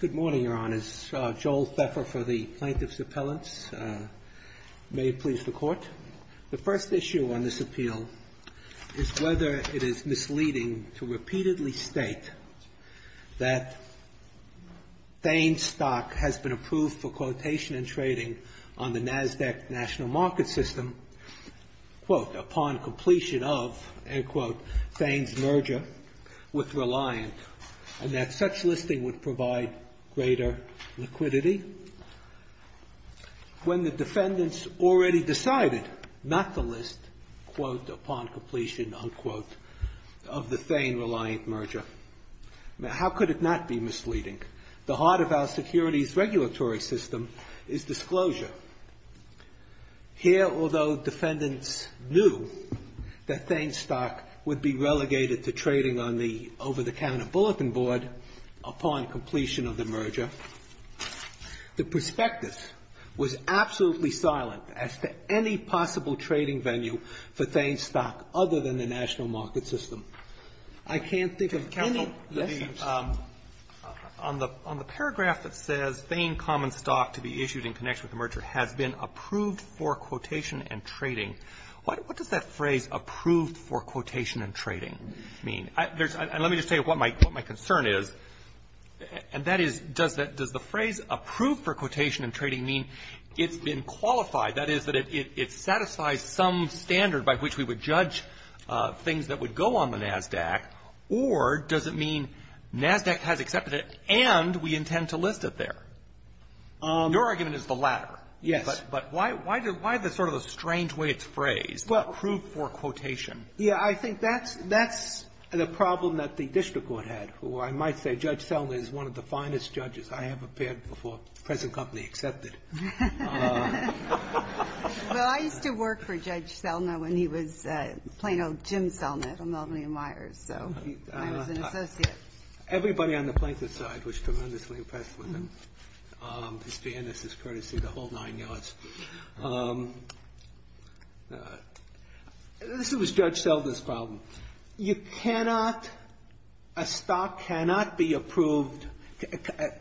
Good morning, Your Honors. Joel Pfeffer for the Plaintiff's Appellants. May it please the Court. The first issue on this appeal is whether it is misleading to repeatedly state that Thane's stock has been approved for quotation and trading on the NASDAQ National Market System, quote, upon completion of, end quote, Thane's merger with Reliant, and that such listing would provide greater liquidity, when the defendants already decided not to list, quote, upon completion, unquote, of the Thane Reliant merger. Now, how could it not be misleading? The heart of our securities regulatory system is disclosure. Here, although defendants knew that Thane's stock would be relegated to trading on the over-the-counter bulletin board upon completion of the merger, the prospectus was absolutely silent as to any possible trading venue for Thane's stock other than the National Market System. I can't think of any lessons. On the paragraph that says Thane Common Stock to be issued in connection with the merger has been approved for quotation and trading, what does that phrase approved for quotation and trading mean? And let me just tell you what my concern is, and that is, does the phrase approved for quotation and trading mean it's been qualified, that is, that it satisfies some standard by which we would judge things that would go on the NASDAQ, or does it mean NASDAQ has accepted it and we intend to list it there? Your argument is the latter. Yes. But why the sort of strange way it's phrased, approved for quotation? Yeah. I think that's the problem that the district court had, who I might say, Judge Selna is one of the finest judges I have appeared before, present company accepted. Well, I used to work for Judge Selna when he was plain old Jim Selna at Melbourne & Myers, so I was an associate. Everybody on the plaintiff's side was tremendously impressed with him. His fairness is courtesy of the whole nine yards. This was Judge Selna's problem. You cannot, a stock cannot be approved,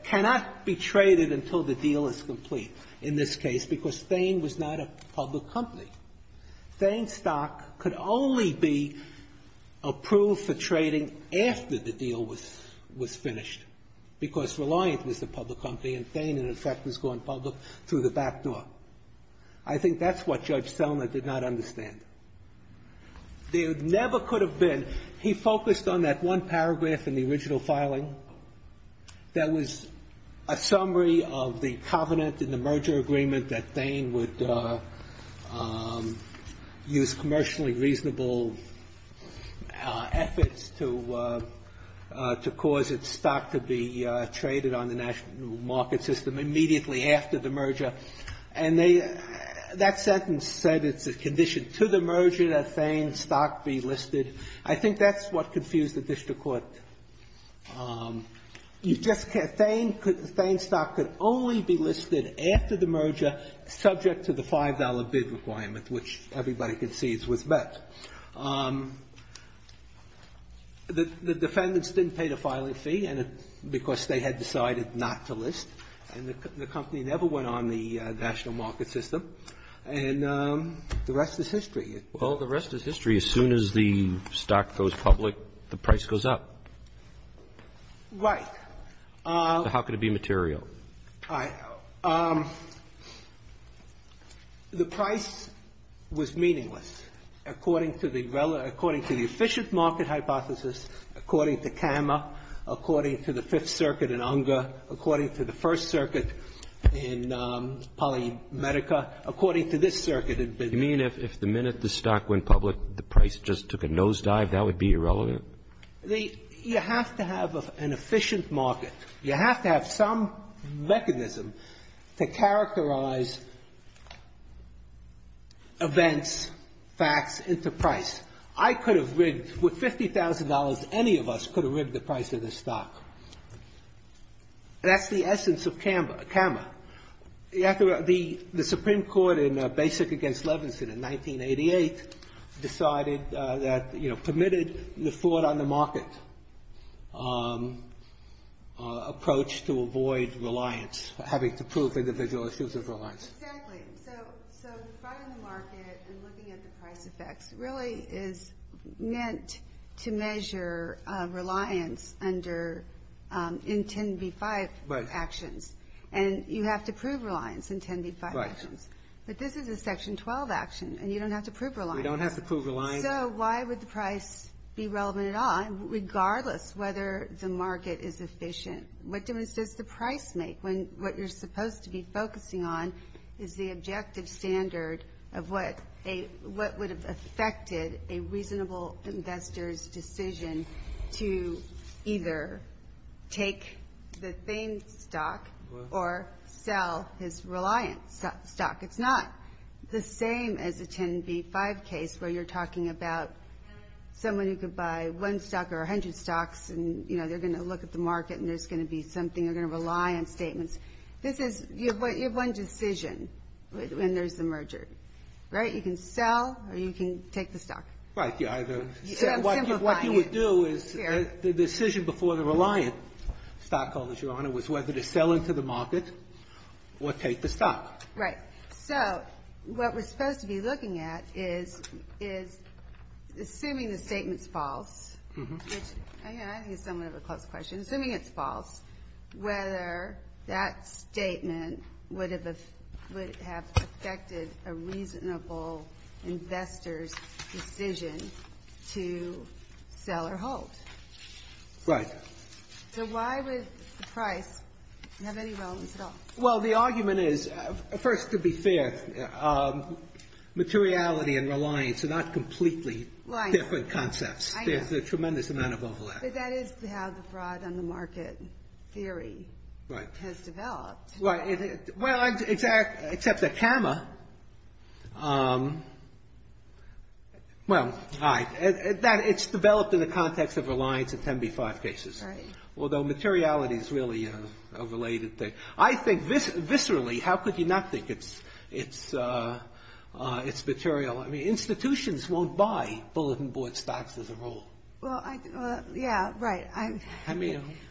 cannot be traded until the deal is complete in this case, because Thane was not a public company. Thane stock could only be approved for trading after the deal was finished, because Reliant was a public company and Thane, in effect, was going public through the back door. I think that's what Judge Selna did not understand. There never could have been. He focused on that one paragraph in the original filing that was a summary of the covenant in the merger agreement that Thane would use commercially reasonable efforts to cause its stock to be traded on the national market system immediately after the merger. And that sentence said it's a condition to the merger that Thane stock be listed. I think that's what confused the district court. Thane stock could only be listed after the merger subject to the $5 bid requirement, which everybody could see was met. The defendants didn't pay the filing fee, because they had decided not to list, and the company never went on the national market system. Well, the rest is history. As soon as the stock goes public, the price goes up. Right. How could it be material? The price was meaningless according to the efficient market hypothesis, according to Cama, according to the Fifth Circuit in Unger, according to the First Circuit in Polymedica, according to this circuit. You mean if the minute the stock went public, the price just took a nosedive? That would be irrelevant? You have to have an efficient market. You have to have some mechanism to characterize events, facts into price. I could have rigged with $50,000, any of us could have rigged the price of the stock. That's the essence of Cama. The Supreme Court in Basic against Levinson in 1988 decided that, you know, permitted the fraud on the market approach to avoid reliance, having to prove individual issues of reliance. Exactly. So fraud on the market and looking at the price effects really is meant to measure reliance under N10B5 actions. And you have to prove reliance in N10B5 actions. Right. But this is a Section 12 action, and you don't have to prove reliance. We don't have to prove reliance. So why would the price be relevant at all, regardless whether the market is efficient? What difference does the price make when what you're supposed to be focusing on is the objective standard of what would have affected a reasonable investor's decision to either take the same stock or sell his reliance stock? It's not the same as a N10B5 case where you're talking about someone who could buy one stock or 100 stocks, and, you know, they're going to look at the market and there's going to be something, they're going to rely on statements. You have one decision when there's a merger. Right? You can sell or you can take the stock. Right. What you would do is the decision before the reliant stockholder, Your Honor, was whether to sell into the market or take the stock. Right. So what we're supposed to be looking at is assuming the statement's false, which I think is somewhat of a close question, assuming it's false, whether that statement would have affected a reasonable investor's decision to sell or hold. Right. So why would the price have any relevance at all? Well, the argument is, first, to be fair, materiality and reliance are not completely different concepts. There's a tremendous amount of overlap. But that is how the fraud on the market theory has developed. Right. Well, except that CAMA, well, it's developed in the context of reliance and 10B5 cases. Right. Although materiality is really a related thing. I think viscerally, how could you not think it's material? I mean, institutions won't buy bulletin board stocks as a rule. Well, yeah, right.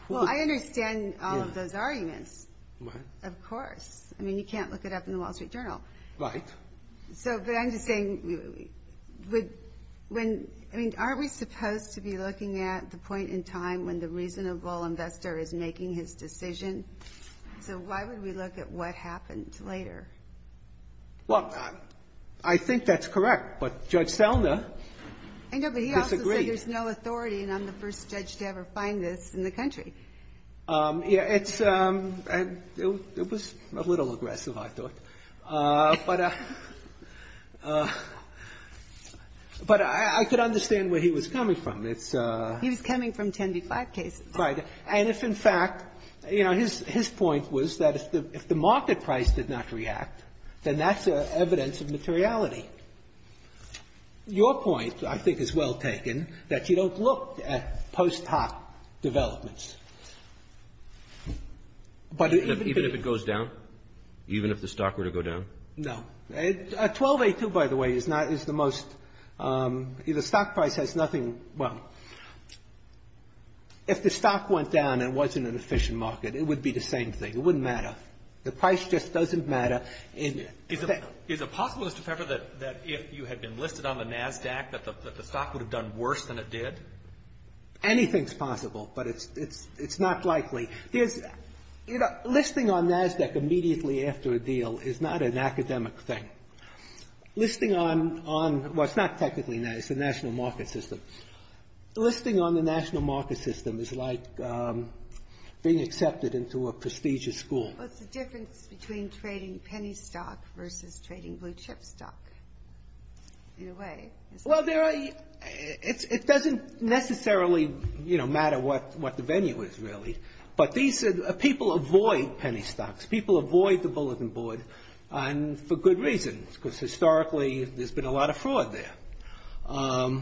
Well, I understand all of those arguments. Right. Of course. I mean, you can't look it up in the Wall Street Journal. Right. But I'm just saying, I mean, aren't we supposed to be looking at the point in time when the reasonable investor is making his decision? So why would we look at what happened later? Well, I think that's correct. But Judge Selna disagrees. No, but he also said there's no authority, and I'm the first judge to ever find this in the country. Yeah. It's a little aggressive, I thought. But I could understand where he was coming from. He was coming from 10B5 cases. Right. And if in fact, you know, his point was that if the market price did not react, then that's evidence of materiality. Your point, I think, is well taken, that you don't look at post hoc developments. Even if it goes down? Even if the stock were to go down? No. 12A2, by the way, is not the most — the stock price has nothing — well, if the stock went down and wasn't an efficient market, it would be the same thing. It wouldn't matter. The price just doesn't matter. Is it possible, Mr. Pfeffer, that if you had been listed on the NASDAQ, that the stock would have done worse than it did? Anything's possible, but it's not likely. There's — you know, listing on NASDAQ immediately after a deal is not an academic thing. Listing on — well, it's not technically NASDAQ. It's the national market system. Listing on the national market system is like being accepted into a prestigious school. What's the difference between trading penny stock versus trading blue chip stock, in a way? Well, there are — it doesn't necessarily, you know, matter what the venue is, really. But these — people avoid penny stocks. People avoid the bulletin board, and for good reason, because historically there's been a lot of fraud there.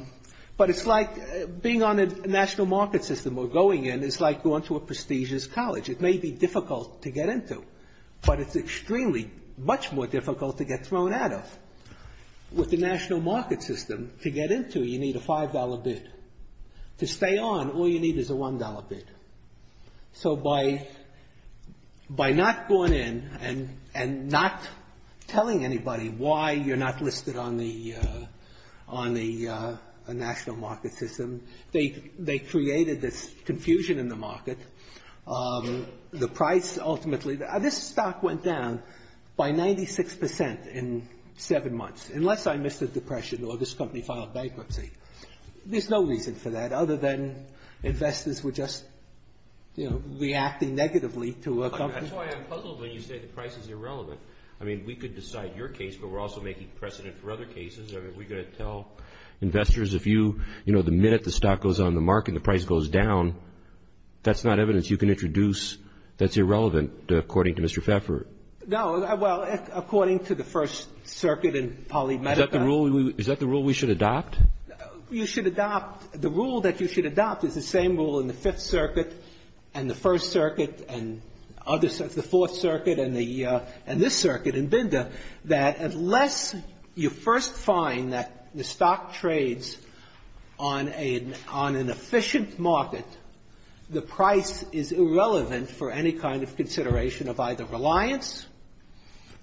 But it's like being on a national market system or going in is like going to a prestigious college. It may be difficult to get into, but it's extremely — much more difficult to get thrown out of. With the national market system, to get into, you need a $5 bid. To stay on, all you need is a $1 bid. So by not going in and not telling anybody why you're not listed on the — on the national market system, they created this confusion in the market. The price ultimately — this stock went down by 96 percent in seven months, unless I missed a depression or this company filed bankruptcy. There's no reason for that, other than investors were just, you know, reacting negatively to a company. That's why I'm puzzled when you say the price is irrelevant. I mean, we could decide your case, but we're also making precedent for other cases. Are we going to tell investors if you — you know, the minute the stock goes on the market and the price goes down, that's not evidence you can introduce that's irrelevant, according to Mr. Pfeffer? No. Well, according to the First Circuit in Polymedica — Is that the rule we — is that the rule we should adopt? You should adopt — the rule that you should adopt is the same rule in the Fifth Circuit and the First Circuit and other — the Fourth Circuit and the — and this circuit in Binda, that unless you first find that the stock trades on a — on an efficient market, the price is irrelevant for any kind of consideration of either reliance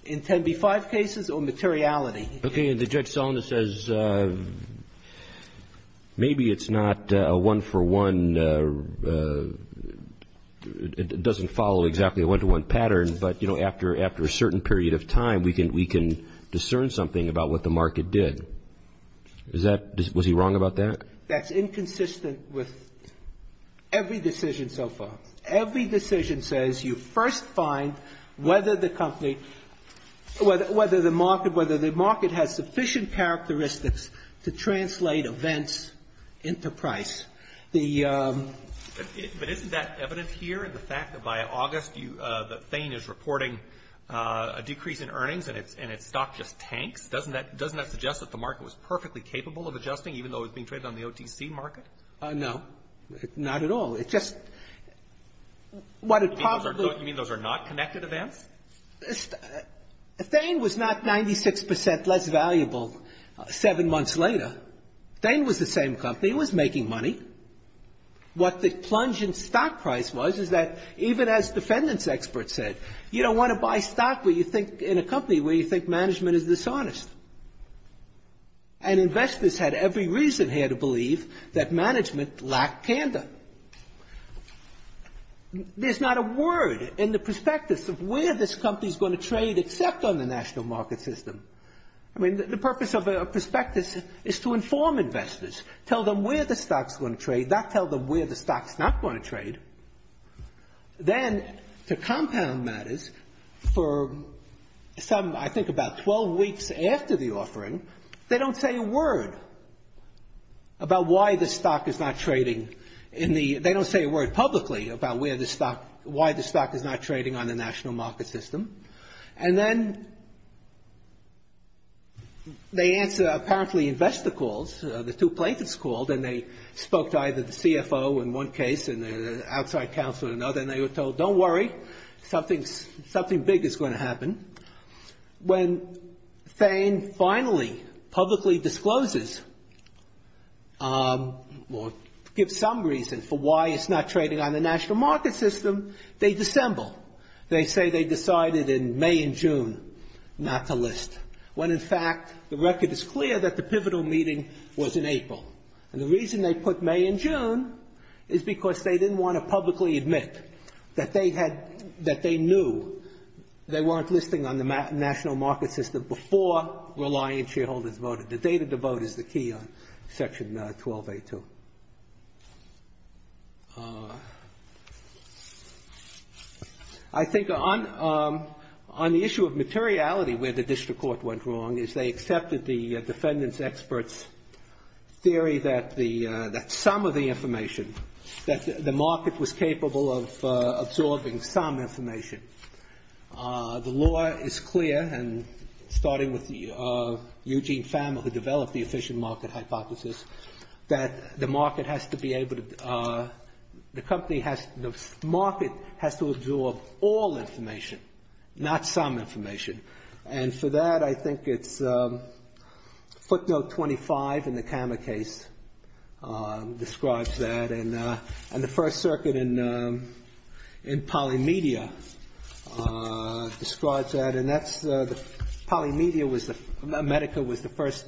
in 10b-5 cases or materiality. Okay. And the Judge Salinas says maybe it's not a one-for-one — it doesn't follow exactly a one-to-one pattern, but, you know, after — after a certain period of time, we can — we can discern something about what the market did. Is that — was he wrong about that? That's inconsistent with every decision so far. Every decision says you first find whether the company — whether the market — whether the market has sufficient characteristics to translate events into price. The — But isn't that evident here, the fact that by August, you — that Thain is reporting a decrease in earnings and its — and its stock just tanks? Doesn't that — doesn't that suggest that the market was perfectly capable of adjusting, even though it was being traded on the OTC market? No. Not at all. It just — what it probably — You mean those are not connected events? Thain was not 96 percent less valuable seven months later. Thain was the same company. It was making money. What the plunge in stock price was is that, even as defendants' experts said, you don't want to buy stock where you think — in a company where you think management is dishonest. And investors had every reason here to believe that management lacked candor. There's not a word in the prospectus of where this company is going to trade except on the national market system. I mean, the purpose of a prospectus is to inform investors, tell them where the stock is going to trade, not tell them where the stock is not going to trade. Then, to compound matters, for some — I think about 12 weeks after the offering, they don't say a word about why the stock is not trading in the — they don't say a word publicly about where the stock — why the stock is not trading on the national market system. And then they answer apparently investor calls, the two plaintiffs called, and they spoke to either the CFO in one case and the outside counsel in another, and they were told, don't worry, something big is going to happen. When Thane finally publicly discloses or gives some reason for why it's not trading on the national market system, they dissemble. They say they decided in May and June not to list, when in fact the record is clear that the pivotal meeting was in April. And the reason they put May and June is because they didn't want to publicly admit that they had — that they knew they weren't listing on the national market system before reliant shareholders voted. The data to vote is the key on Section 12A2. I think on the issue of materiality where the district court went wrong is they accepted the defendant's expert's theory that some of the information, that the market was capable of absorbing some information. The law is clear, and starting with Eugene Fama, who developed the efficient market hypothesis, that the market has to be able to — the company has — the market has to absorb all information, not some information. And for that, I think it's footnote 25 in the Kammer case describes that. And the First Circuit in Polymedia describes that. And that's — Polymedia was the — Medica was the first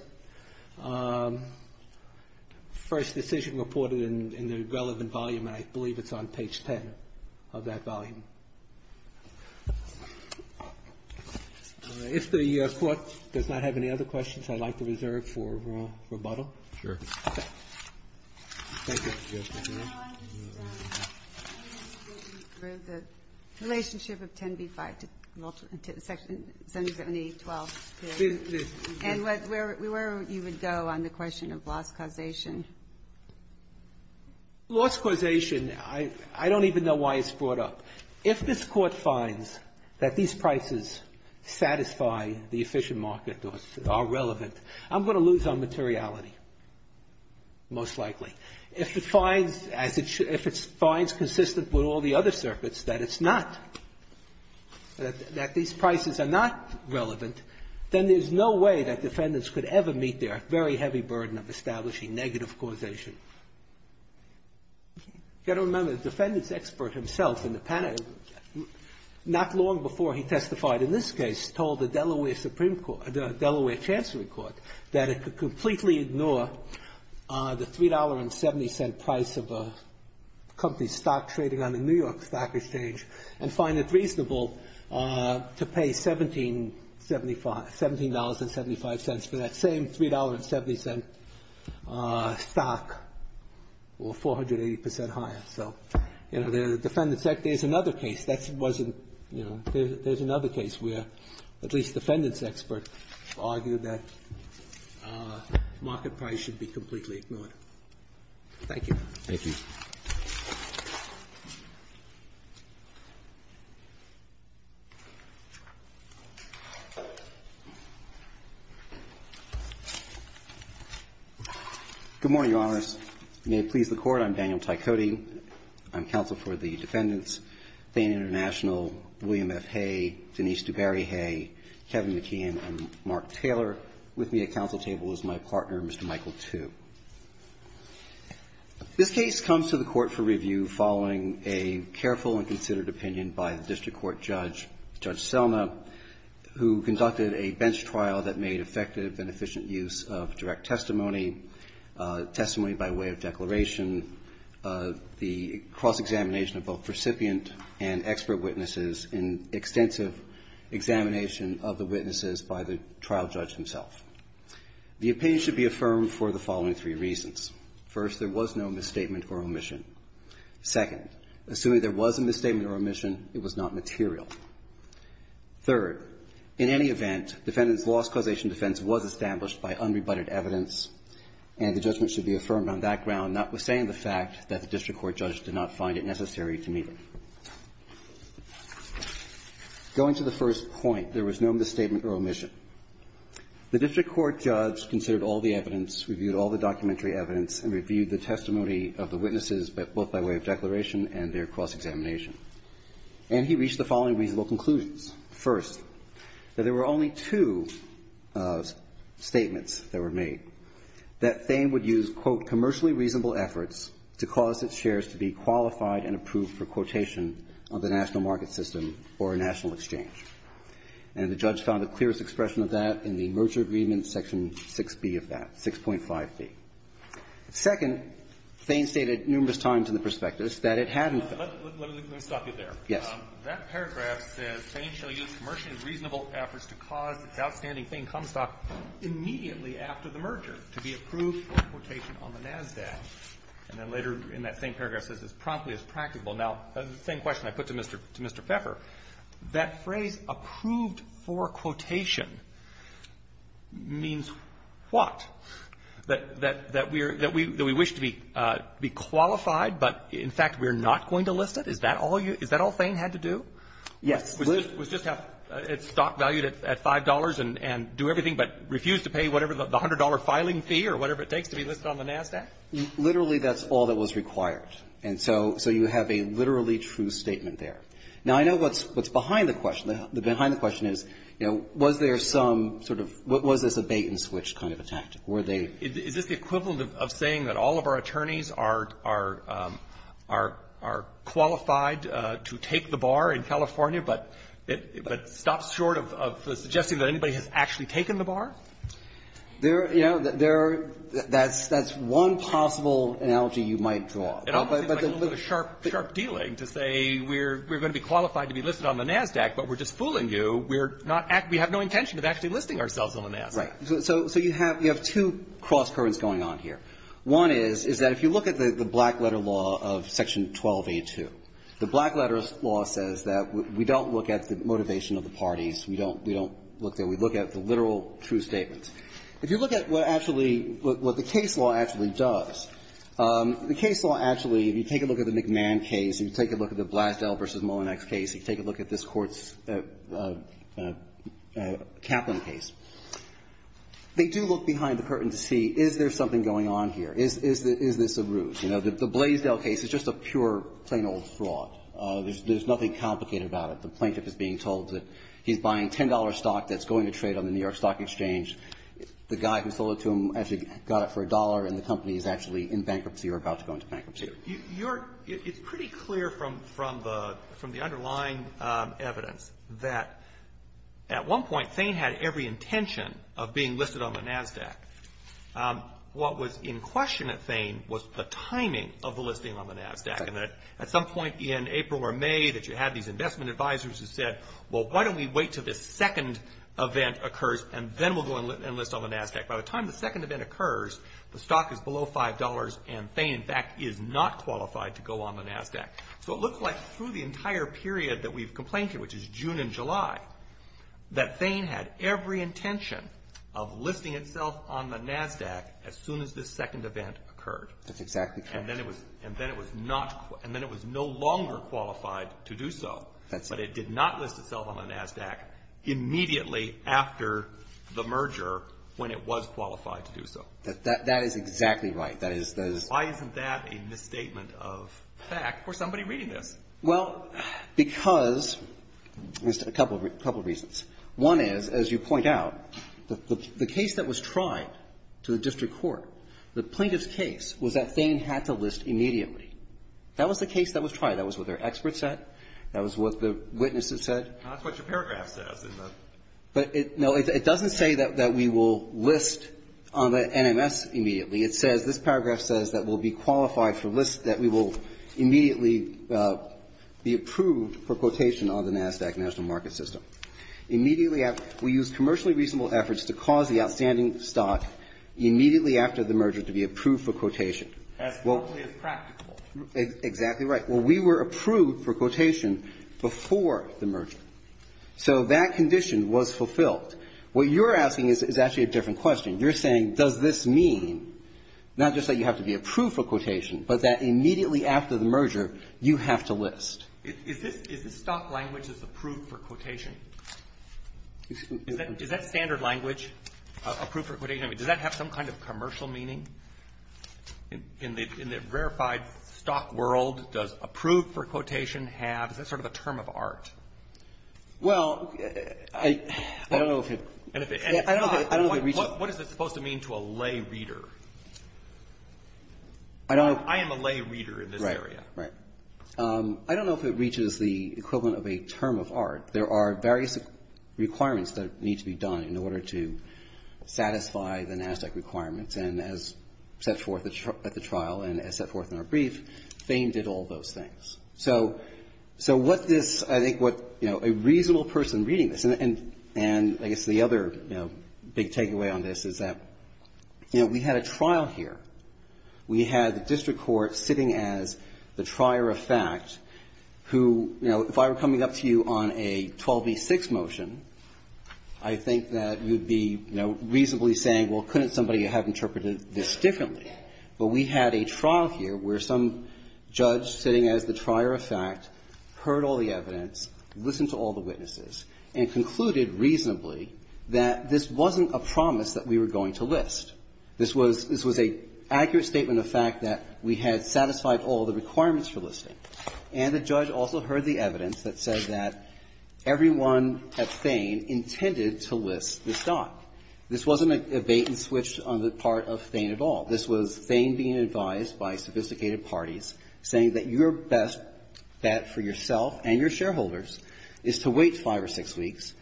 decision reported in the relevant volume, and I believe it's on page 10 of that volume. If the Court does not have any other questions, I'd like to reserve for rebuttal. Sure. Okay. Thank you. Thank you. The relationship of 10b-5 to — to Section — Senate 7A12. And where would you go on the question of loss causation? If this Court finds that these prices satisfy the efficient market or are relevant, I'm going to lose on materiality, most likely. If it finds, as it — if it finds consistent with all the other circuits that it's not — that these prices are not relevant, then there's no way that defendants could ever meet their very heavy burden of establishing negative causation. Thank you. If you don't remember, the defendants' expert himself in the panel, not long before he testified in this case, told the Delaware Supreme Court — the Delaware Chancery Court that it could completely ignore the $3.70 price of a company's stock trading on the New York Stock Exchange and find it reasonable to pay $17.75 — $17.75 for that same $3.70 stock or 480 percent higher. So, you know, the defendants' — there's another case. That wasn't — you know, there's another case where at least defendants' expert argued that market price should be completely ignored. Thank you. Thank you. Good morning, Your Honors. May it please the Court. I'm Daniel Tycote. I'm counsel for the defendants, Thane International, William F. Hay, Denise DuBarry Hay, Kevin McKeon, and Mark Taylor. With me at counsel table is my partner, Mr. Michael Tu. This case comes to the Court for review following a careful and considered opinion by the district court judge, Judge Selma, who conducted a bench trial that made effective and efficient use of direct testimony, testimony by way of declaration, the cross-examination of both recipient and expert witnesses, and extensive examination of the witnesses by the trial judge himself. The opinion should be affirmed for the following three reasons. First, there was no misstatement or omission. Second, assuming there was a misstatement or omission, it was not material. Third, in any event, defendant's loss causation defense was established by unrebutted evidence, and the judgment should be affirmed on that ground, notwithstanding the fact that the district court judge did not find it necessary to meet it. Going to the first point, there was no misstatement or omission. The district court judge considered all the evidence, reviewed all the documentary evidence, and reviewed the testimony of the witnesses, both by way of declaration and their cross-examination. And he reached the following reasonable conclusions. First, that there were only two statements that were made, that Thame would use, quote, commercially reasonable efforts to cause its shares to be qualified and approved for quotation of the national market system or a national exchange. And the judge found the clearest expression of that in the merger agreement section 6b of that, 6.5b. Second, Thame stated numerous times in the prospectus that it hadn't been. Let me stop you there. Yes. That paragraph says Thame shall use commercially reasonable efforts to cause its outstanding immediately after the merger to be approved for quotation on the NASDAQ. And then later in that same paragraph says it's promptly as practicable. Now, the same question I put to Mr. Pfeffer, that phrase, approved for quotation, means what? That we wish to be qualified, but in fact we're not going to list it? Is that all Thame had to do? Yes. Was just have its stock valued at $5 and do everything but refuse to pay whatever the $100 filing fee or whatever it takes to be listed on the NASDAQ? Literally, that's all that was required. And so you have a literally true statement there. Now, I know what's behind the question. The behind the question is, you know, was there some sort of was this a bait-and-switch kind of attack? Were they Is this the equivalent of saying that all of our attorneys are qualified to take the bar in California, but it stops short of suggesting that anybody has actually taken the bar? There, you know, that's one possible analogy you might draw. It almost seems like a little bit of a sharp, sharp dealing to say we're going to be qualified to be listed on the NASDAQ, but we're just fooling you. We have no intention of actually listing ourselves on the NASDAQ. Right. So you have two cross-currents going on here. One is, is that if you look at the black-letter law of Section 1282, the black-letter law says that we don't look at the motivation of the parties. We don't look there. We look at the literal true statements. If you look at what actually, what the case law actually does, the case law actually, if you take a look at the McMahon case, if you take a look at the Blasdell v. Mullinex case, if you take a look at this Court's Kaplan case, they do look behind the curtain to see, is there something going on here? Is this a ruse? You know, the Blasdell case is just a pure, plain old fraud. There's nothing complicated about it. The plaintiff is being told that he's buying $10 stock that's going to trade on the New York Stock Exchange. The guy who sold it to him actually got it for a dollar, and the company is actually in bankruptcy or about to go into bankruptcy. It's pretty clear from the underlying evidence that at one point, Thain had every intention of being listed on the NASDAQ. What was in question at Thain was the timing of the listing on the NASDAQ, and that at some point in April or May that you had these investment advisors who said, well, why don't we wait till this second event occurs, and then we'll go and list on the NASDAQ. By the time the second event occurs, the stock is below $5, and Thain, in fact, is not qualified to go on the NASDAQ. So it looks like through the entire period that we've complained to, which is June and July, that Thain had every intention of listing itself on the NASDAQ as soon as this second event occurred. That's exactly correct. And then it was no longer qualified to do so. That's right. But it did not list itself on the NASDAQ immediately after the merger when it was qualified to do so. That is exactly right. Why isn't that a misstatement of fact for somebody reading this? Well, because of a couple of reasons. One is, as you point out, the case that was tried to the district court, the plaintiff's case was that Thain had to list immediately. That was the case that was tried. That was what their experts said. That was what the witnesses said. That's what your paragraph says. But it doesn't say that we will list on the NMS immediately. It says, this paragraph says that we'll be qualified for list, that we will immediately be approved for quotation on the NASDAQ National Market System. Immediately after. We used commercially reasonable efforts to cause the outstanding stock immediately after the merger to be approved for quotation. That's probably as practical. Exactly right. Well, we were approved for quotation before the merger. So that condition was fulfilled. What you're asking is actually a different question. You're saying, does this mean not just that you have to be approved for quotation, but that immediately after the merger, you have to list? Is this stock language that's approved for quotation? Is that standard language, approved for quotation? Does that have some kind of commercial meaning? In the verified stock world, does approved for quotation have? Is that sort of a term of art? Well, I don't know if it's. What is it supposed to mean to a lay reader? I don't know. I am a lay reader in this area. Right, right. I don't know if it reaches the equivalent of a term of art. There are various requirements that need to be done in order to satisfy the NASDAQ requirements. And as set forth at the trial and as set forth in our brief, FAME did all those things. So what this, I think what, you know, a reasonable person reading this, and I guess the other, you know, big takeaway on this is that, you know, we had a trial here. We had the district court sitting as the trier of fact who, you know, if I were coming up to you on a 12b-6 motion, I think that you would be, you know, reasonably saying, well, couldn't somebody have interpreted this differently? But we had a trial here where some judge sitting as the trier of fact heard all the evidence, listened to all the witnesses, and concluded reasonably that this wasn't a promise that we were going to list. This was an accurate statement of fact that we had satisfied all the requirements for listing, and the judge also heard the evidence that said that everyone at FAME intended to list this doc. This wasn't a bait-and-switch on the part of FAME at all. This was FAME being advised by sophisticated parties, saying that your best bet for yourself and your shareholders is to wait five or six weeks,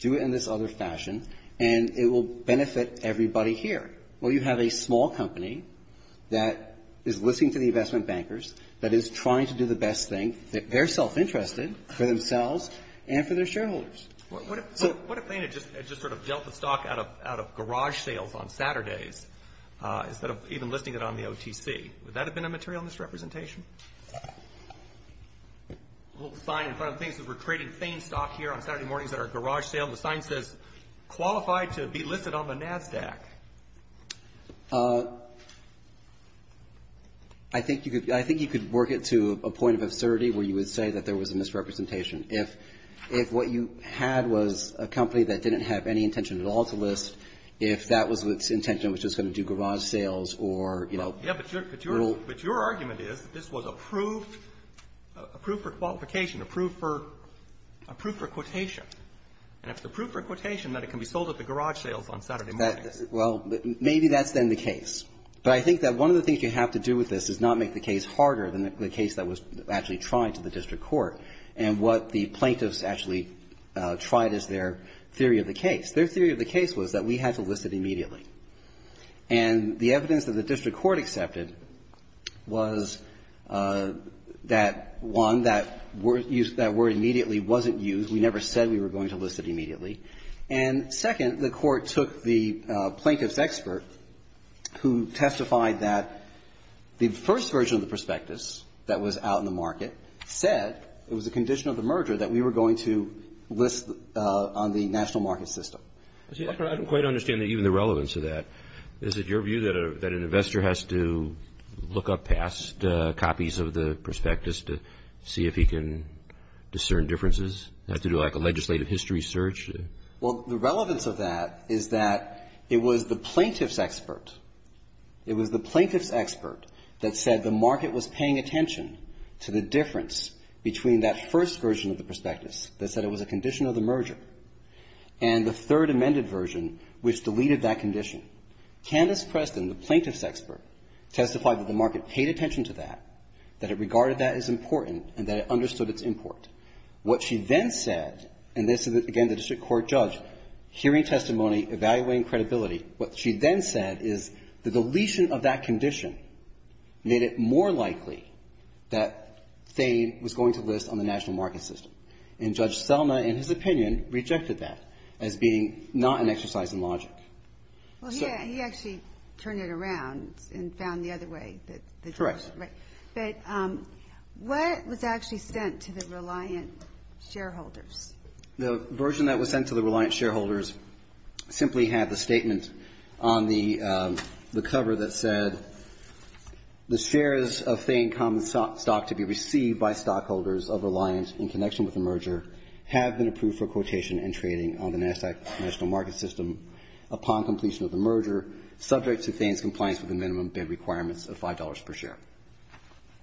do it in this other fashion, and it will benefit everybody here. Well, you have a small company that is listening to the investment bankers, that is trying to do the best thing, that they're self-interested for themselves and for their shareholders. What if FAME had just sort of dealt the stock out of garage sales on Saturdays, instead of even listing it on the OTC? Would that have been a material misrepresentation? A little sign in front of the thing says we're trading FAME stock here on Saturday mornings at our garage sale. The sign says, qualified to be listed on the NASDAQ. I think you could work it to a point of absurdity where you would say that there was a misrepresentation. If what you had was a company that didn't have any intention at all to list, if that was its intention, it was just going to do garage sales or, you know, rule. But your argument is that this was approved for qualification, approved for quotation. And if it's approved for quotation, then it can be sold at the garage sales on Saturday mornings. Well, maybe that's then the case. But I think that one of the things you have to do with this is not make the case harder than the case that was actually tried to the district court and what the plaintiffs actually tried as their theory of the case. Their theory of the case was that we had to list it immediately. And the evidence that the district court accepted was that, one, that word immediately wasn't used. We never said we were going to list it immediately. And, second, the court took the plaintiff's expert who testified that the first version of the prospectus that was out in the market said it was a condition of the merger that we were going to list on the national market system. I don't quite understand even the relevance of that. Is it your view that an investor has to look up past copies of the prospectus to see if he can discern differences? Have to do, like, a legislative history search? Well, the relevance of that is that it was the plaintiff's expert. It was the plaintiff's expert that said the market was paying attention to the difference between that first version of the prospectus that said it was a condition of the merger and the third amended version which deleted that condition. Candace Preston, the plaintiff's expert, testified that the market paid attention to that, that it regarded that as important, and that it understood its import. What she then said, and this is, again, the district court judge hearing testimony, evaluating credibility, what she then said is that the deletion of that condition made it more likely that Thame was going to list on the national market system. And Judge Selma, in his opinion, rejected that as being not an exercise in logic. Well, he actually turned it around and found the other way. Correct. But what was actually sent to the reliant shareholders? The version that was sent to the reliant shareholders simply had the statement on the cover that said the shares of Thame common stock to be received by stockholders of reliance in connection with the merger have been approved for quotation and trading on the NASDAQ national market system upon completion of the merger subject to Thame's compliance with the minimum bid requirements of $5 per share.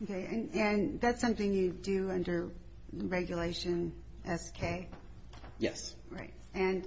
Okay. And that's something you do under regulation SK? Yes. Right. And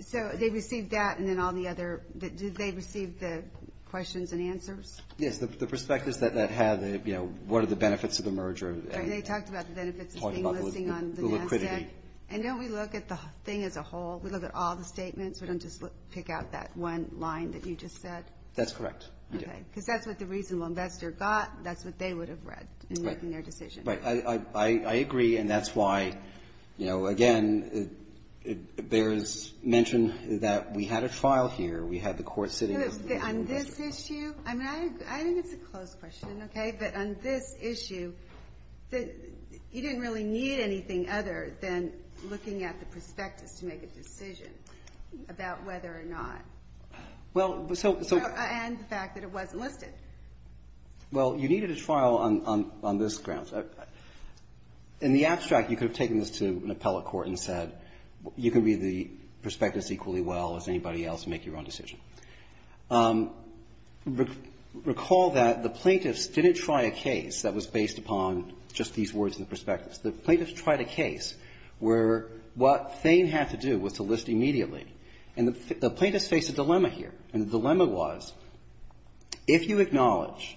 so they received that, and then all the other. Did they receive the questions and answers? Yes, the prospectus that had, you know, what are the benefits of the merger. And they talked about the benefits of Thame listing on the NASDAQ. And don't we look at the thing as a whole? We look at all the statements? We don't just pick out that one line that you just said? That's correct. Okay. Because that's what the reasonable investor got. That's what they would have read in making their decision. Right. I agree. And that's why, you know, again, there is mention that we had a trial here. We had the court sitting. On this issue, I mean, I think it's a close question, okay? But on this issue, you didn't really need anything other than looking at the prospectus to make a decision about whether or not. Well, so. And the fact that it wasn't listed. Well, you needed a trial on this grounds. In the abstract, you could have taken this to an appellate court and said you can read the prospectus equally well as anybody else and make your own decision. Recall that the plaintiffs didn't try a case that was based upon just these words in the prospectus. The plaintiffs tried a case where what Thame had to do was to list immediately. And the plaintiffs faced a dilemma here. And the dilemma was if you acknowledge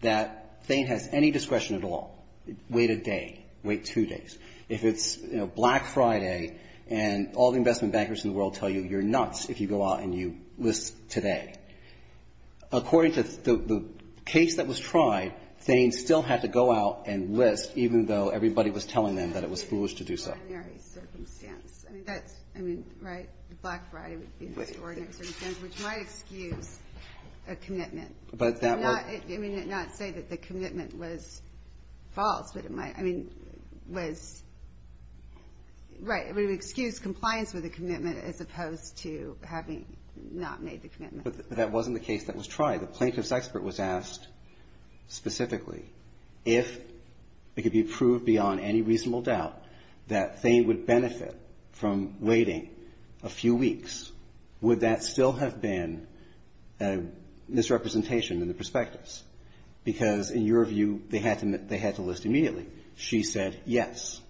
that Thame has any discretion at all, wait a day. Wait two days. If it's, you know, Black Friday and all the investment bankers in the world tell you you're nuts if you go out and you list today. According to the case that was tried, Thame still had to go out and list even though everybody was telling them that it was foolish to do so. That's an extraordinary circumstance. I mean, that's, I mean, right? Black Friday would be an extraordinary circumstance which might excuse a commitment. But that was. I mean, not say that the commitment was false. But it might, I mean, was, right. It would excuse compliance with a commitment as opposed to having not made the commitment. But that wasn't the case that was tried. The plaintiff's expert was asked specifically if it could be proved beyond any reasonable doubt that Thame would benefit from waiting a few weeks, would that still have been a misrepresentation in the perspectives? Because in your view, they had to list immediately. She said yes.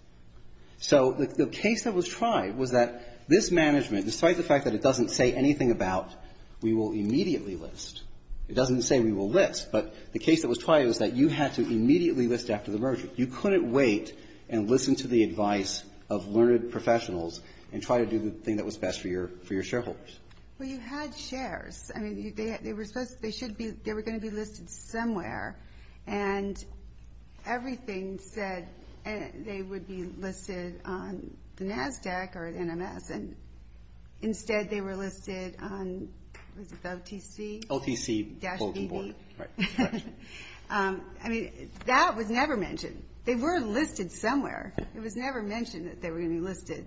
So the case that was tried was that this management, despite the fact that it doesn't say anything about we will immediately list. It doesn't say we will list. But the case that was tried was that you had to immediately list after the merger. You couldn't wait and listen to the advice of learned professionals and try to do the thing that was best for your shareholders. Well, you had shares. I mean, they were supposed to, they should be, they were going to be listed somewhere. And everything said they would be listed on the NASDAQ or NMS. And instead they were listed on, what was it, OTC? OTC holding board. Right. I mean, that was never mentioned. They were listed somewhere. It was never mentioned that they were going to be listed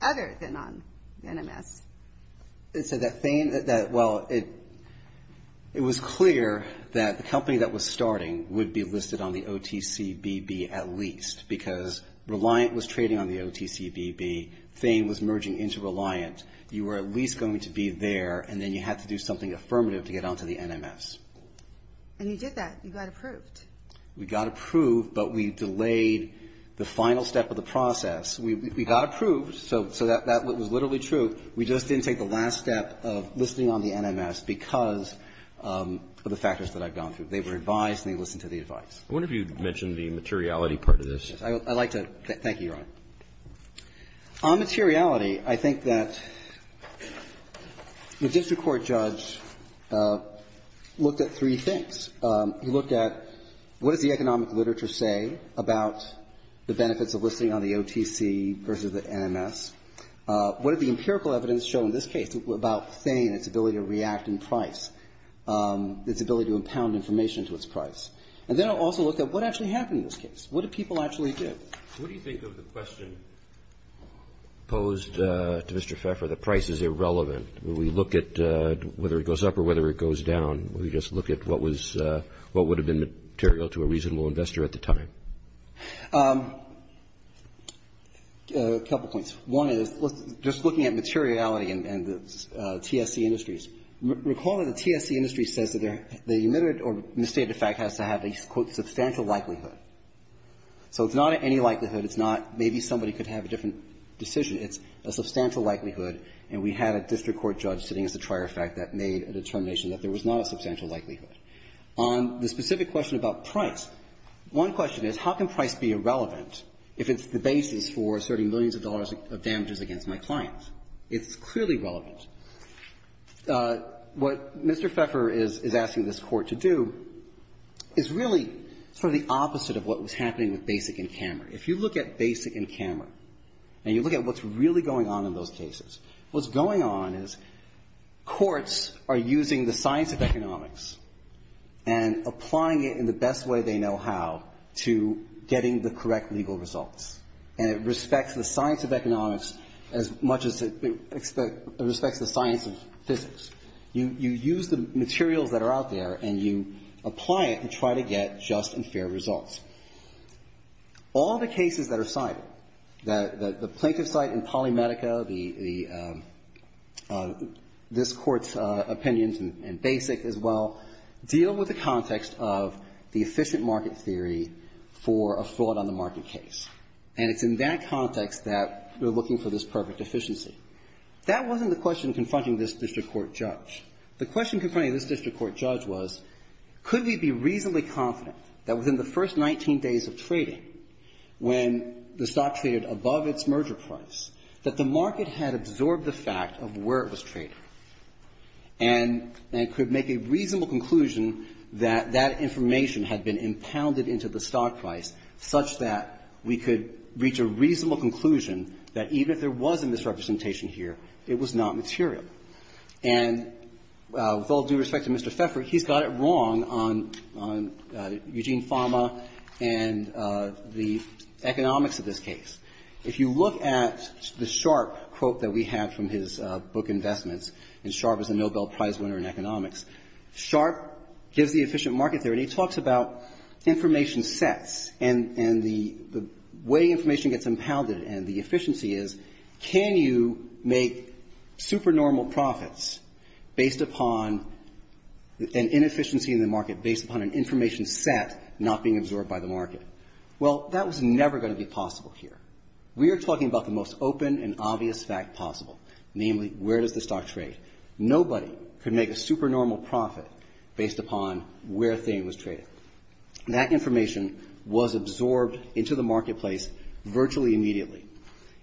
other than on NMS. And so that Thame, well, it was clear that the company that was starting would be listed on the OTC BB at least because Reliant was trading on the OTC BB. Thame was merging into Reliant. You were at least going to be there, and then you had to do something affirmative to get onto the NMS. And you did that. You got approved. We got approved, but we delayed the final step of the process. We got approved. So that was literally true. We just didn't take the last step of listing on the NMS because of the factors that I've gone through. They were advised and they listened to the advice. I wonder if you mentioned the materiality part of this. I'd like to. Thank you, Your Honor. On materiality, I think that the district court judge looked at three things. He looked at what does the economic literature say about the benefits of listing on the OTC versus the NMS? What did the empirical evidence show in this case about Thame, its ability to react in price, its ability to impound information to its price? And then it also looked at what actually happened in this case. What did people actually do? What do you think of the question posed to Mr. Pfeffer that price is irrelevant? When we look at whether it goes up or whether it goes down, we just look at what would have been material to a reasonable investor at the time. A couple points. One is just looking at materiality and the TSC industries. Recall that the TSC industry says that the emitted or misstated fact has to have a quote, substantial likelihood. So it's not any likelihood. It's not maybe somebody could have a different decision. It's a substantial likelihood. And we had a district court judge sitting as a trier fact that made a determination that there was not a substantial likelihood. On the specific question about price, one question is how can price be irrelevant if it's the basis for asserting millions of dollars of damages against my clients? It's clearly relevant. What Mr. Pfeffer is asking this Court to do is really sort of the opposite of what was happening with Basic and Kammerer. If you look at Basic and Kammerer and you look at what's really going on in those cases, what's going on is courts are using the science of economics and applying it in the best way they know how to getting the correct legal results, and it respects the science of economics as much as it respects the science of physics. You use the materials that are out there and you apply it and try to get just and fair results. All the cases that are cited, the plaintiff's site in Polymedica, this Court's opinions in Basic as well, deal with the context of the efficient market theory for a fraud on the market case. And it's in that context that we're looking for this perfect efficiency. That wasn't the question confronting this district court judge. The question confronting this district court judge was could we be reasonably confident that within the first 19 days of trading, when the stock traded above its merger price, that the market had absorbed the fact of where it was trading and could make a reasonable conclusion that that information had been impounded into the stock price such that we could reach a reasonable conclusion that even if there was a misrepresentation here, it was not material. And with all due respect to Mr. Pfeffer, he's got it wrong on Eugene Fama and the economics of this case. If you look at the Sharpe quote that we have from his book Investments, and Sharpe is a Nobel Prize winner in economics, Sharpe gives the efficient market theory talks about information sets and the way information gets impounded and the efficiency is can you make supernormal profits based upon an inefficiency in the market based upon an information set not being absorbed by the market? Well, that was never going to be possible here. We are talking about the most open and obvious fact possible, namely where does the stock trade? Nobody could make a supernormal profit based upon where a thing was traded. That information was absorbed into the marketplace virtually immediately.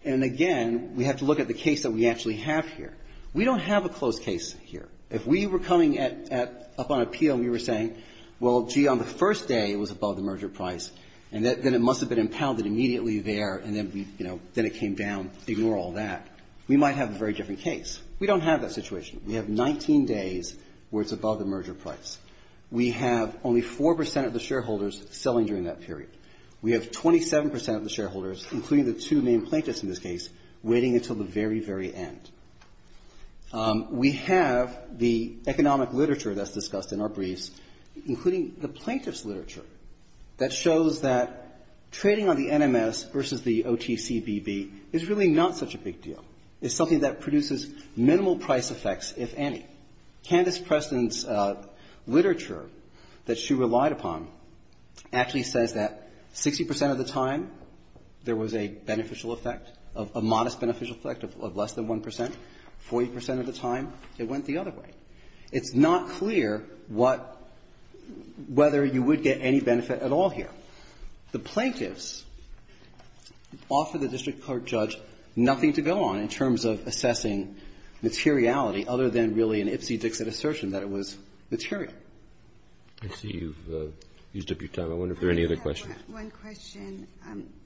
And, again, we have to look at the case that we actually have here. We don't have a close case here. If we were coming at upon appeal and we were saying, well, gee, on the first day it was above the merger price, and then it must have been impounded immediately there, and then, you know, then it came down, ignore all that, we might have a very different case. We don't have that situation. We have 19 days where it's above the merger price. We have only 4 percent of the shareholders selling during that period. We have 27 percent of the shareholders, including the two main plaintiffs in this case, waiting until the very, very end. We have the economic literature that's discussed in our briefs, including the plaintiffs' literature, that shows that trading on the NMS versus the OTCBB is really not such a big deal. It's something that produces minimal price effects, if any. Candace Preston's literature that she relied upon actually says that 60 percent of the time there was a beneficial effect, a modest beneficial effect of less than 1 percent. 40 percent of the time it went the other way. It's not clear what – whether you would get any benefit at all here. But the plaintiffs offered the district court judge nothing to go on in terms of assessing materiality other than really an Ipsy-Dixit assertion that it was material. Roberts. I see you've used up your time. I wonder if there are any other questions. One question.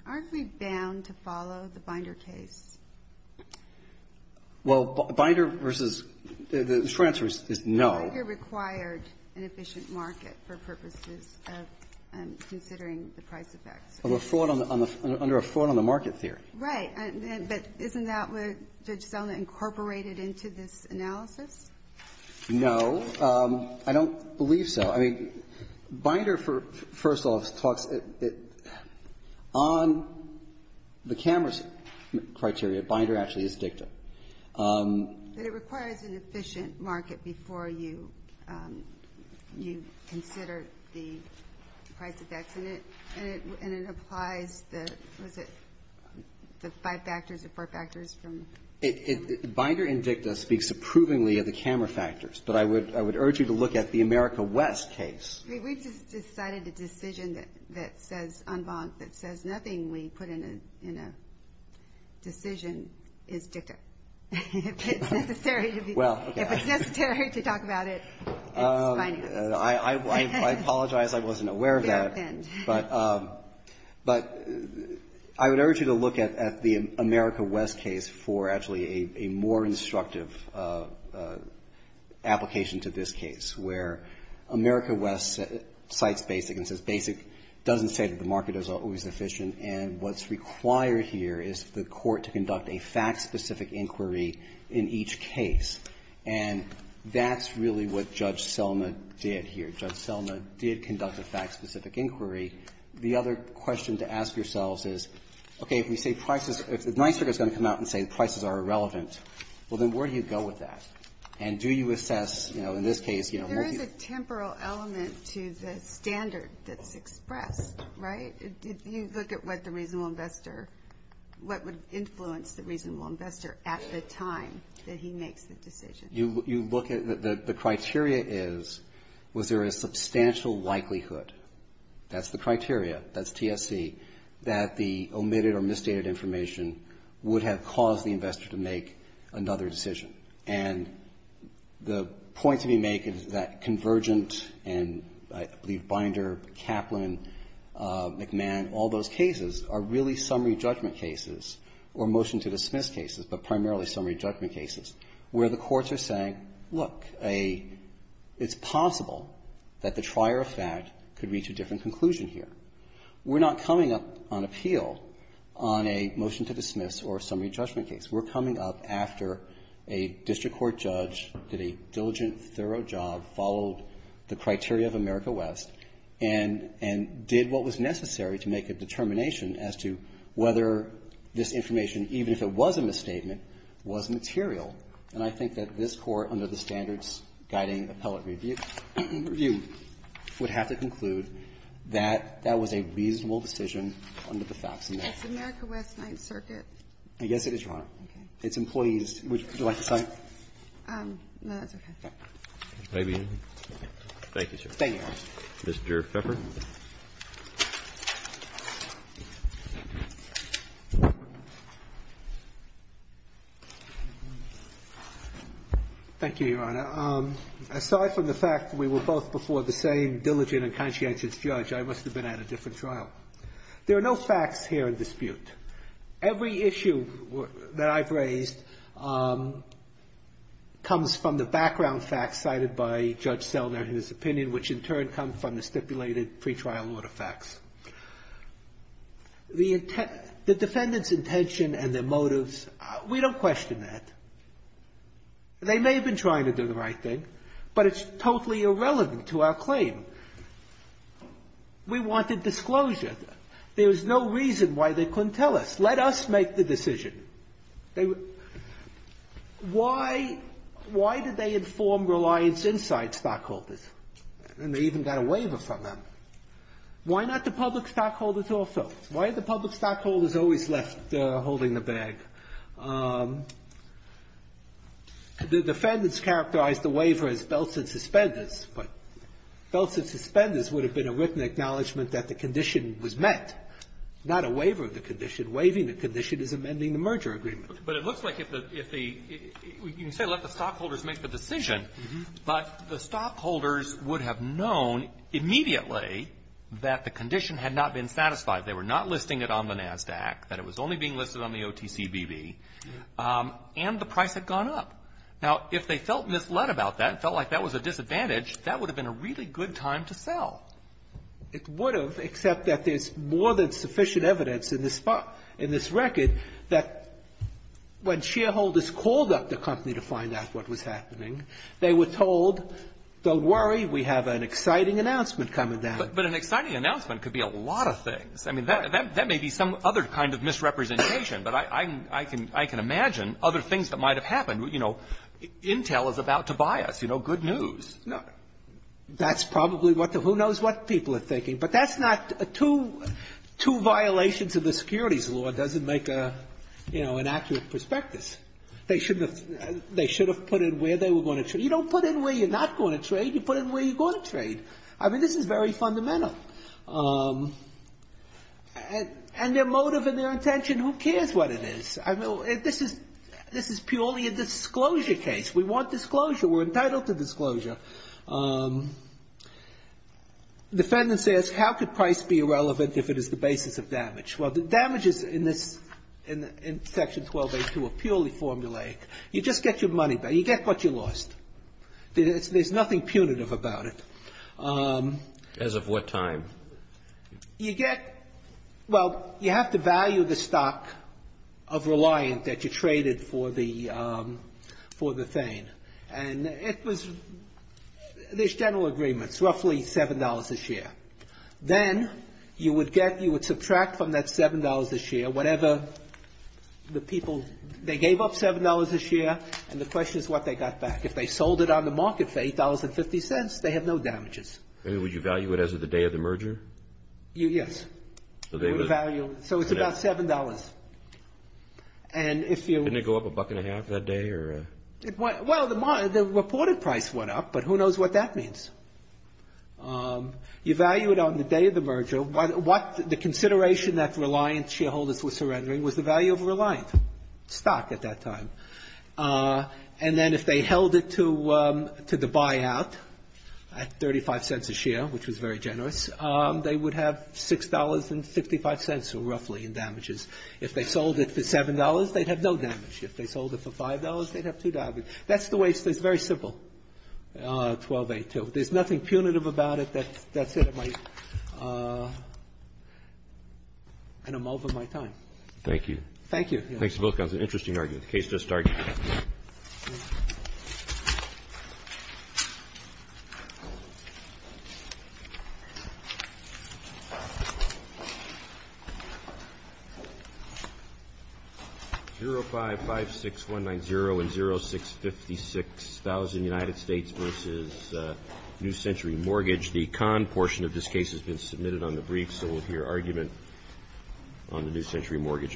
Aren't we bound to follow the Binder case? Well, Binder versus – the short answer is no. Binder required an efficient market for purposes of considering the price effects. Of a fraud on the – under a fraud on the market theory. Right. But isn't that what Judge Selna incorporated into this analysis? No. I don't believe so. I mean, Binder, first off, talks – on the cameras criteria, Binder actually is dicta. But it requires an efficient market before you consider the price effects. And it applies the – what is it? The five factors or four factors from? Binder in dicta speaks approvingly of the camera factors. But I would urge you to look at the America West case. We've just decided a decision that says unbonked, that says nothing we put in a decision is dicta. If it's necessary to be – if it's necessary to talk about it, it's finance. I apologize. I wasn't aware of that. But I would urge you to look at the America West case for actually a more instructive application to this case where America West cites basic and says basic doesn't say that And what's required here is the court to conduct a fact-specific inquiry in each case. And that's really what Judge Selna did here. Judge Selna did conduct a fact-specific inquiry. The other question to ask yourselves is, okay, if we say prices – if NYSERDA is going to come out and say the prices are irrelevant, well, then where do you go with that? And do you assess, you know, in this case, you know, will you – to the standard that's expressed, right? If you look at what the reasonable investor – what would influence the reasonable investor at the time that he makes the decision. You look at – the criteria is, was there a substantial likelihood – that's the criteria, that's TSC – that the omitted or misstated information would have caused the investor to make another decision. And the point to be made is that Convergent and, I believe, Binder, Kaplan, McMahon, all those cases are really summary judgment cases or motion-to-dismiss cases, but primarily summary judgment cases where the courts are saying, look, a – it's possible that the trier of fact could reach a different conclusion here. We're not coming up on appeal on a motion-to-dismiss or a summary judgment case. We're coming up after a district court judge did a diligent, thorough job, followed the criteria of America West, and – and did what was necessary to make a determination as to whether this information, even if it was a misstatement, was material. And I think that this Court, under the Standards Guiding Appellate Review, would have to conclude that that was a reasonable decision under the facts in there. It's America West Ninth Circuit. Yes, it is, Your Honor. Okay. Its employees – would you like to cite? No, that's okay. Thank you, Your Honor. Mr. Feffer. Thank you, Your Honor. Aside from the fact that we were both before the same diligent and conscientious judge, I must have been at a different trial. There are no facts here in dispute. Every issue that I've raised comes from the background facts cited by Judge Selner in his opinion, which in turn come from the stipulated pretrial order facts. The defendant's intention and their motives, we don't question that. They may have been trying to do the right thing, but it's totally irrelevant to our claim. We wanted disclosure. There was no reason why they couldn't tell us. Let us make the decision. Why did they inform reliance inside stockholders? And they even got a waiver from them. Why not the public stockholders also? Why are the public stockholders always left holding the bag? The defendants characterized the waiver as belts and suspenders. Belts and suspenders would have been a written acknowledgment that the condition was met. Not a waiver of the condition. Waiving the condition is amending the merger agreement. But it looks like if the you can say let the stockholders make the decision, but the stockholders would have known immediately that the condition had not been satisfied. They were not listing it on the NASDAQ, that it was only being listed on the OTCBB, and the price had gone up. Now, if they felt misled about that and felt like that was a disadvantage, that would have been a really good time to sell. It would have, except that there's more than sufficient evidence in this record that when shareholders called up the company to find out what was happening, they were told, don't worry, we have an exciting announcement coming down. But an exciting announcement could be a lot of things. I mean, that may be some other kind of misrepresentation. But I can imagine other things that might have happened. You know, Intel is about to buy us. You know, good news. Gershengorn No. That's probably what the who knows what people are thinking. But that's not two violations of the securities law doesn't make an accurate prospectus. They should have put in where they were going to trade. You don't put in where you're not going to trade. You put in where you're going to trade. I mean, this is very fundamental. And their motive and their intention, who cares what it is? I mean, this is purely a disclosure case. We want disclosure. We're entitled to disclosure. Defendants ask, how could price be irrelevant if it is the basis of damage? Well, the damages in this, in Section 1282 are purely formulaic. You just get your money back. You get what you lost. There's nothing punitive about it. Roberts. As of what time? You get, well, you have to value the stock of Reliant that you traded for the, for the Thane. And it was, there's general agreements, roughly $7 a share. Then you would get, you would subtract from that $7 a share whatever the people they gave up $7 a share, and the question is what they got back. If they sold it on the market for $8.50, they have no damages. And would you value it as of the day of the merger? Yes. So they would. So it's about $7. And if you. Didn't it go up a buck and a half that day, or? Well, the reported price went up, but who knows what that means. You value it on the day of the merger. The consideration that Reliant shareholders were surrendering was the value of Reliant stock at that time. And then if they held it to, to the buyout at $0.35 a share, which was very generous, they would have $6.55 roughly in damages. If they sold it for $7, they'd have no damage. If they sold it for $5, they'd have two damages. That's the way it is. It's very simple, 12a2. There's nothing punitive about it. That's it. I'm over my time. Thank you. Thank you. Thanks, both. That was an interesting argument. The case just started. 0556190 and 0656,000 United States versus New Century Mortgage. The con portion of this case has been submitted on the brief, so we'll hear argument on the New Century Mortgage Appeal.